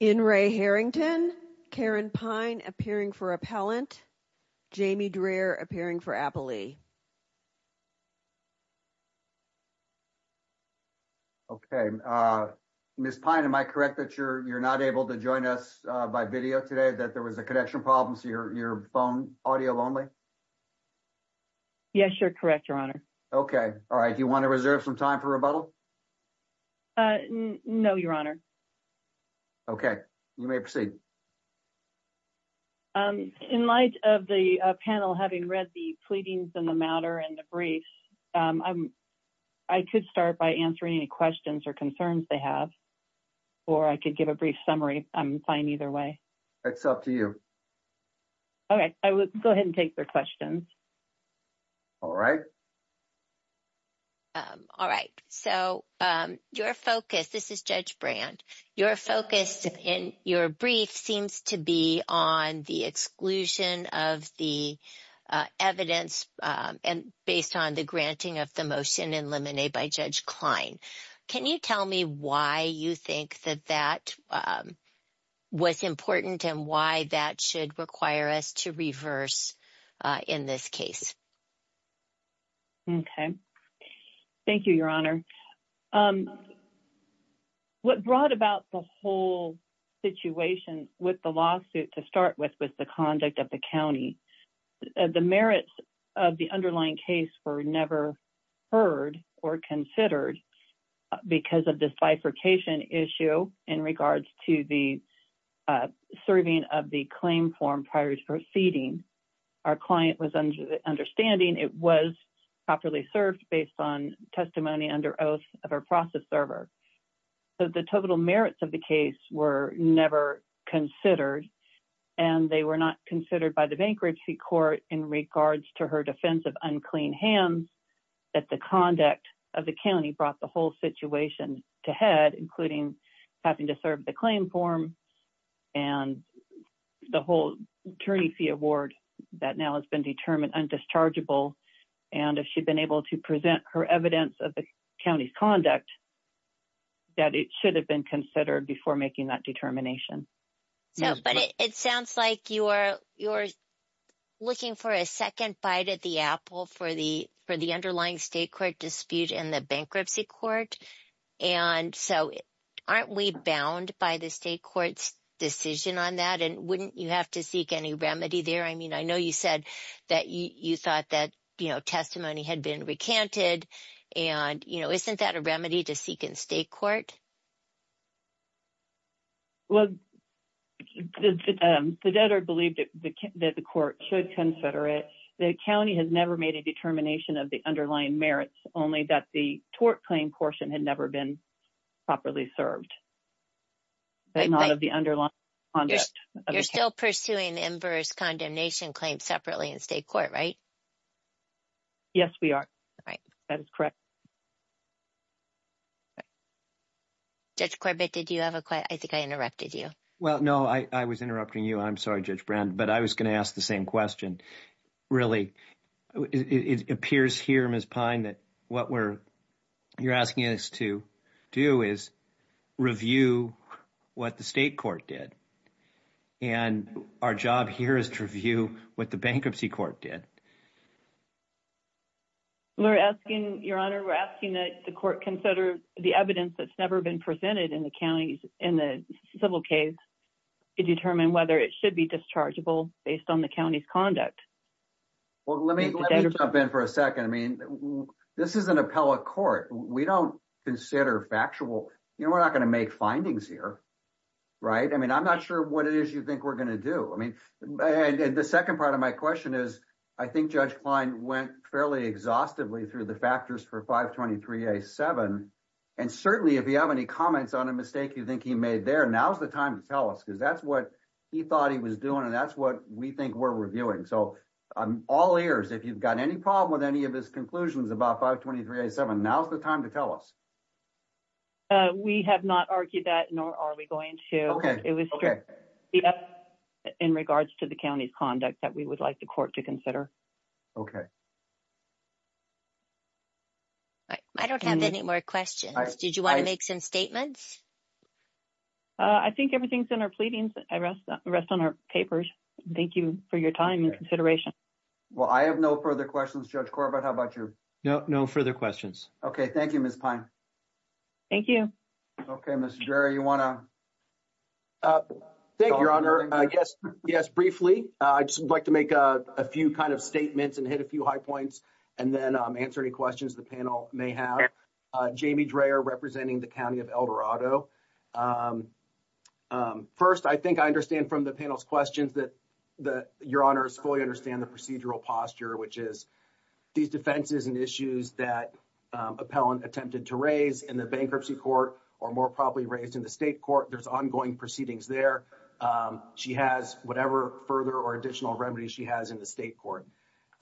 In re Harrington, Karen Pine appearing for appellant, Jamie Dreher appearing for appellee. Okay, Ms. Pine, am I correct that you're not able to join us by video today, that there was a connection problem, so your phone audio only? Yes, you're correct, your honor. Okay, all right, you want to reserve some time for rebuttal? No, your honor. Okay, you may proceed. In light of the panel having read the pleadings in the matter and the brief, I could start by answering any questions or concerns they have, or I could give a brief summary, I'm fine either way. It's up to you. Okay, I will go ahead and take their questions. All right. All right, so your focus, this is Judge Brand, your focus in your brief seems to be on the exclusion of the evidence and based on the granting of the motion in limine by Judge Klein. Can you tell me why you think that that was important and why that should require us to be diverse in this case? Okay, thank you, your honor. What brought about the whole situation with the lawsuit to start with was the conduct of the county. The merits of the underlying case were never heard or considered because of this bifurcation issue in regards to the serving of the claim form prior to proceeding. Our client was understanding it was properly served based on testimony under oath of our process server. So the total merits of the case were never considered and they were not considered by the bankruptcy court in regards to her defense of unclean hands that the conduct of the county brought the whole situation to head, including having to serve the claim form and the whole attorney fee award that now has been determined undischargeable. And if she'd been able to present her evidence of the county's conduct, that it should have been considered before making that determination. So, but it sounds like you're looking for a second bite at the apple for the underlying state court dispute and the bankruptcy court. And so aren't we bound by the state court's decision on that? And wouldn't you have to seek any remedy there? I mean, I know you said that you thought that testimony had been recanted and isn't that a remedy to seek in state court? Well, the debtor believed that the court should consider it. The county has never made a determination of the underlying merits, only that the tort claim portion had never been properly served. But not of the underlying. You're still pursuing the inverse condemnation claim separately in state court, right? Yes, we are. That is correct. Judge Corbett, did you have a question? I think I interrupted you. Well, no, I was interrupting you. I'm sorry, Judge Brand, but I was going to ask the same question. Really, it appears here, Ms. Pine, that what you're asking us to do is review what the state court did. And our job here is to review what the bankruptcy court did. Your Honor, we're asking that the court consider the evidence that's never been presented in the county's civil case to determine whether it should be dischargeable based on the county's debt. Well, let me jump in for a second. I mean, this is an appellate court. We don't consider factual. You know, we're not going to make findings here, right? I mean, I'm not sure what it is you think we're going to do. I mean, and the second part of my question is, I think Judge Klein went fairly exhaustively through the factors for 523A7. And certainly, if you have any comments on a mistake you think he made there, now's the time to tell us, because that's what he thought he was doing. And that's what we think we're reviewing. So I'm all ears. If you've got any problem with any of his conclusions about 523A7, now's the time to tell us. We have not argued that, nor are we going to. It was strict in regards to the county's conduct that we would like the court to consider. Okay. I don't have any more questions. Did you want to make some statements? I think everything's in our pleadings. I rest on our papers. Thank you for your time and consideration. Well, I have no further questions. Judge Corbett, how about you? No, no further questions. Okay. Thank you, Ms. Pine. Thank you. Okay. Mr. Dreher, you want to? Thank you, Your Honor. Yes, briefly. I'd just like to make a few kind of statements and hit a few high points, and then answer any questions the panel may have. Jamie Dreher, representing the County of El Dorado. First, I think I understand from the panel's questions that Your Honors fully understand the procedural posture, which is these defenses and issues that Appellant attempted to raise in the bankruptcy court, or more probably raised in the state court. There's ongoing proceedings there. She has whatever further or additional remedies she has in the state court.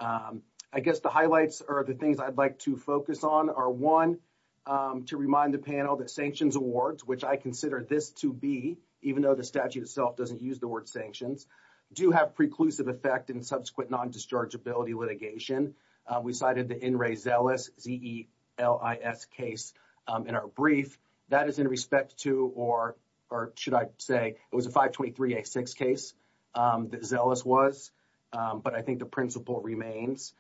I guess the highlights or the things I'd like to focus on are, one, to remind the panel that sanctions awards, which I consider this to be, even though the statute itself doesn't use the word sanctions, do have preclusive effect in subsequent non-dischargeability litigation. We cited the N. Ray Zelis, Z-E-L-I-S, case in our brief. That is in respect to, or should I say, it was a 523A6 case that Zelis was, but I think the principle remains.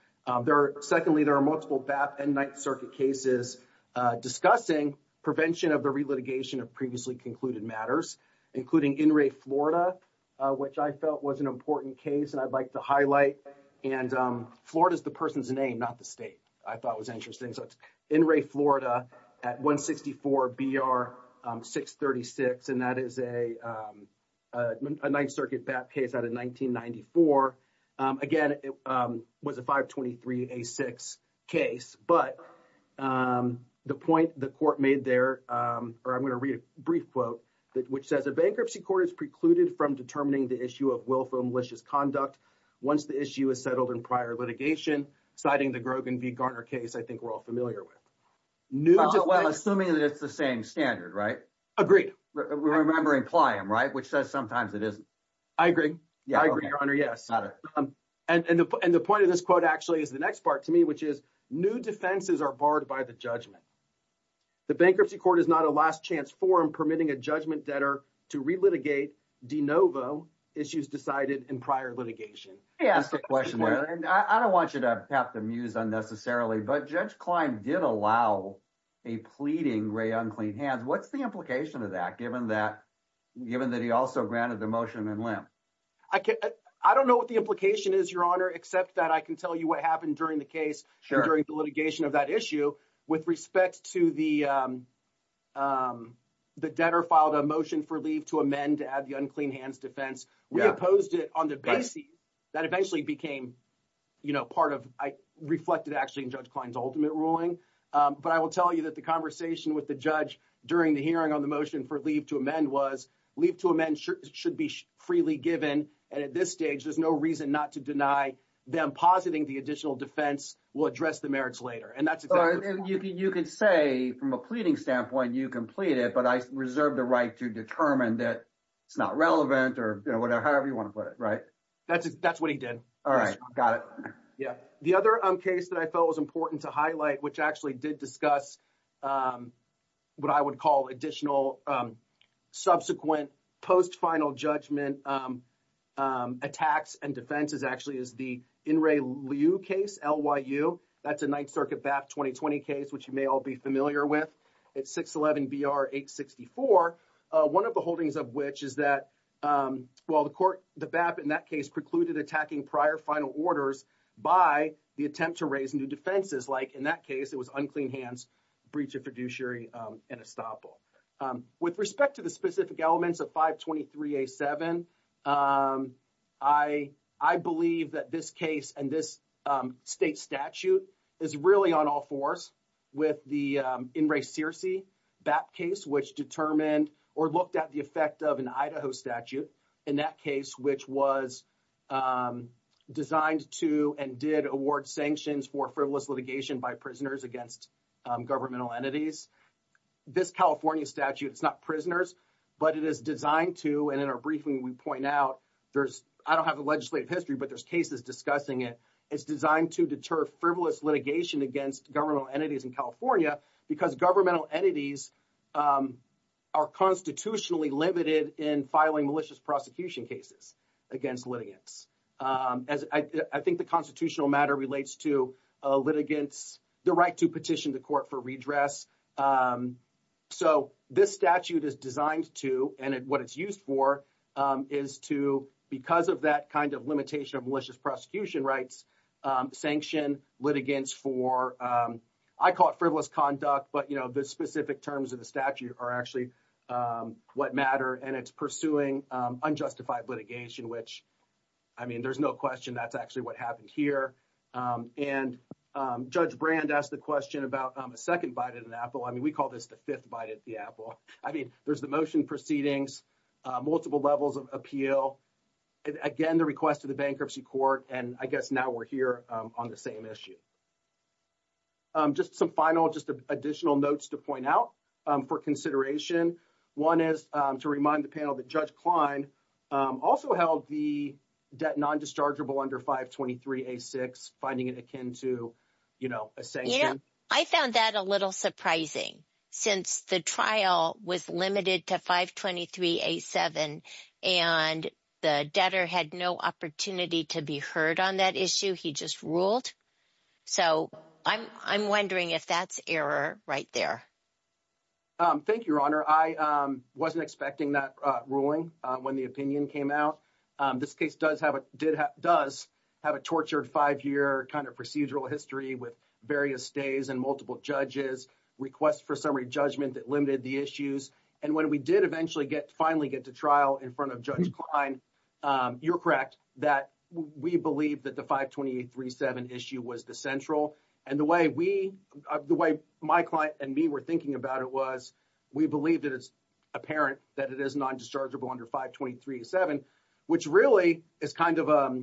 Secondly, there are multiple BAP and Ninth Circuit cases discussing prevention of the relitigation of previously concluded matters, including N. Ray Florida, which I felt was an important case and I'd like to highlight. And Florida is the person's name, not the state, I thought was interesting. So it's N. Ray Florida at 164BR636, and that is a Ninth Circuit BAP case out of 1994. Again, it was a 523A6 case, but the point the court made there, or I'm going to read a brief quote, which says, a bankruptcy court is precluded from determining the issue of willful malicious conduct once the issue is settled in prior litigation, citing the Grogan v. Garner case I think we're all familiar with. Well, assuming that it's the same standard, right? Agreed. Remembering Pliam, right? Which says sometimes it isn't. I agree. I agree, Your Honor, yes. And the point of this quote actually is the next part to me, which is, new defenses are barred by the judgment. The bankruptcy court is not a last chance forum permitting a judgment debtor to relitigate de novo issues decided in prior litigation. May I ask a question? I don't want you to pat the muse unnecessarily, but Judge Klein did allow a pleading gray unclean hands. What's the implication of that, given that he also granted the motion in limp? I don't know what the implication is, Your Honor, except that I can tell you what happened during the case and during the litigation of that issue with respect to the debtor filed a motion for leave to amend to add the unclean hands defense. We opposed it on the base that eventually became part of, reflected actually in Judge Klein's ultimate ruling. But I will tell you that the conversation with the judge during the hearing on the motion for leave to amend was, leave to amend should be freely given. And at this stage, there's no reason not to deny them positing the additional defense will address the merits later. And that's exactly what's going on. You can say from a pleading standpoint, you can plead it, but I reserve the right to determine that it's not relevant or whatever, however you want to put it, right? That's what he did. All right. Got it. Yeah. The other case that I felt was important to highlight, which actually did discuss what I would call additional subsequent post-final judgment attacks and defenses actually is the In Re Liu case, L-Y-U. That's a Ninth Circuit BAP 2020 case, which you may all be familiar with. It's 611-BR-864, one of the holdings of which is that, well, the court, the BAP in that case precluded attacking prior final orders by the attempt to raise new defenses. In that case, it was unclean hands, breach of fiduciary, and estoppel. With respect to the specific elements of 523-A-7, I believe that this case and this state statute is really on all fours with the In Re Searcy BAP case, which determined or looked at the effect of an Idaho statute in that case, which was designed to and did award sanctions for frivolous litigation by prisoners against governmental entities. This California statute, it's not prisoners, but it is designed to, and in our briefing, we point out there's, I don't have the legislative history, but there's cases discussing it. It's designed to deter frivolous litigation against governmental entities in California because governmental entities are constitutionally limited in filing malicious prosecution cases against litigants. As I think the constitutional matter relates to litigants, the right to petition the court for redress. So this statute is designed to, and what it's used for, is to, because of that kind of limitation of malicious prosecution rights, sanction litigants for, I call it frivolous conduct, but the specific terms of the statute are actually what matter, and it's pursuing unjustified litigation, which, I mean, there's no question that's actually what happened here. And Judge Brand asked the question about a second bite at an apple. I mean, we call this the fifth bite at the apple. I mean, there's the motion proceedings, multiple levels of appeal, and again, the request to the bankruptcy court, and I guess now we're here on the same issue. Just some final, just additional notes to point out for consideration. One is to remind the panel that Judge Klein also held the debt non-dischargeable under 523-A-6, finding it akin to a sanction. I found that a little surprising since the trial was limited to 523-A-7, and the debtor had no opportunity to be heard on that issue. He just ruled. So I'm wondering if that's error right there. Thank you, Your Honor. I wasn't expecting that ruling when the opinion came out. This case does have a tortured five-year kind of procedural history with various stays and multiple judges, requests for summary judgment that limited the issues. And when we did eventually get, finally get to trial in front of Judge Klein, you're correct that we believe that the 523-A-7 issue was the central. And the way we, the way my client and me were thinking about it was, we believe that it's apparent that it is non-dischargeable under 523-A-7, which really is kind of a,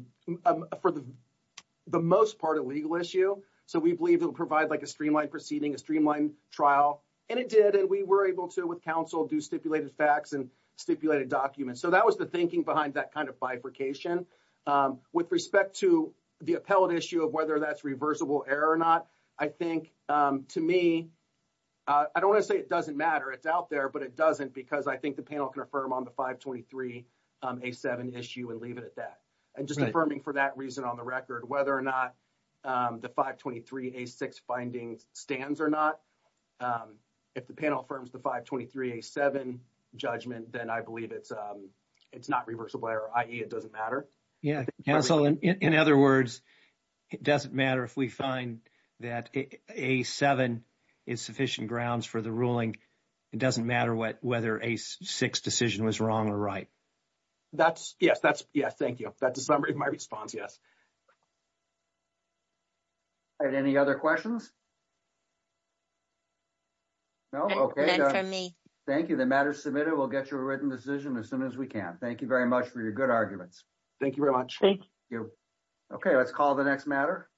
for the most part, a legal issue. So we believe it'll provide like a streamlined proceeding, a streamlined trial. And it did, and we were able to, with counsel, do stipulated facts and stipulated documents. So that was the thinking behind that kind of bifurcation. With respect to the appellate issue of whether that's reversible error or not, I think to me, I don't want to say it doesn't matter, it's out there, but it doesn't because I think the panel can affirm on the 523-A-7 issue and leave it at that. And just affirming for that reason on the record, whether or not the 523-A-6 findings stands or not, if the panel affirms the 523-A-7 judgment, then I believe it's not reversible error, i.e. it doesn't matter. Yeah. Counsel, in other words, it doesn't matter if we find that A-7 is sufficient grounds for the ruling, it doesn't matter whether A-6 decision was wrong or right. That's, yes, that's, yeah, thank you. That's a summary of my response, yes. All right, any other questions? No, okay. None for me. Thank you. The matter is submitted. We'll get you a written decision as soon as we can. Thank you very much for your good arguments. Thank you very much. Thank you. Okay, let's call the next matter.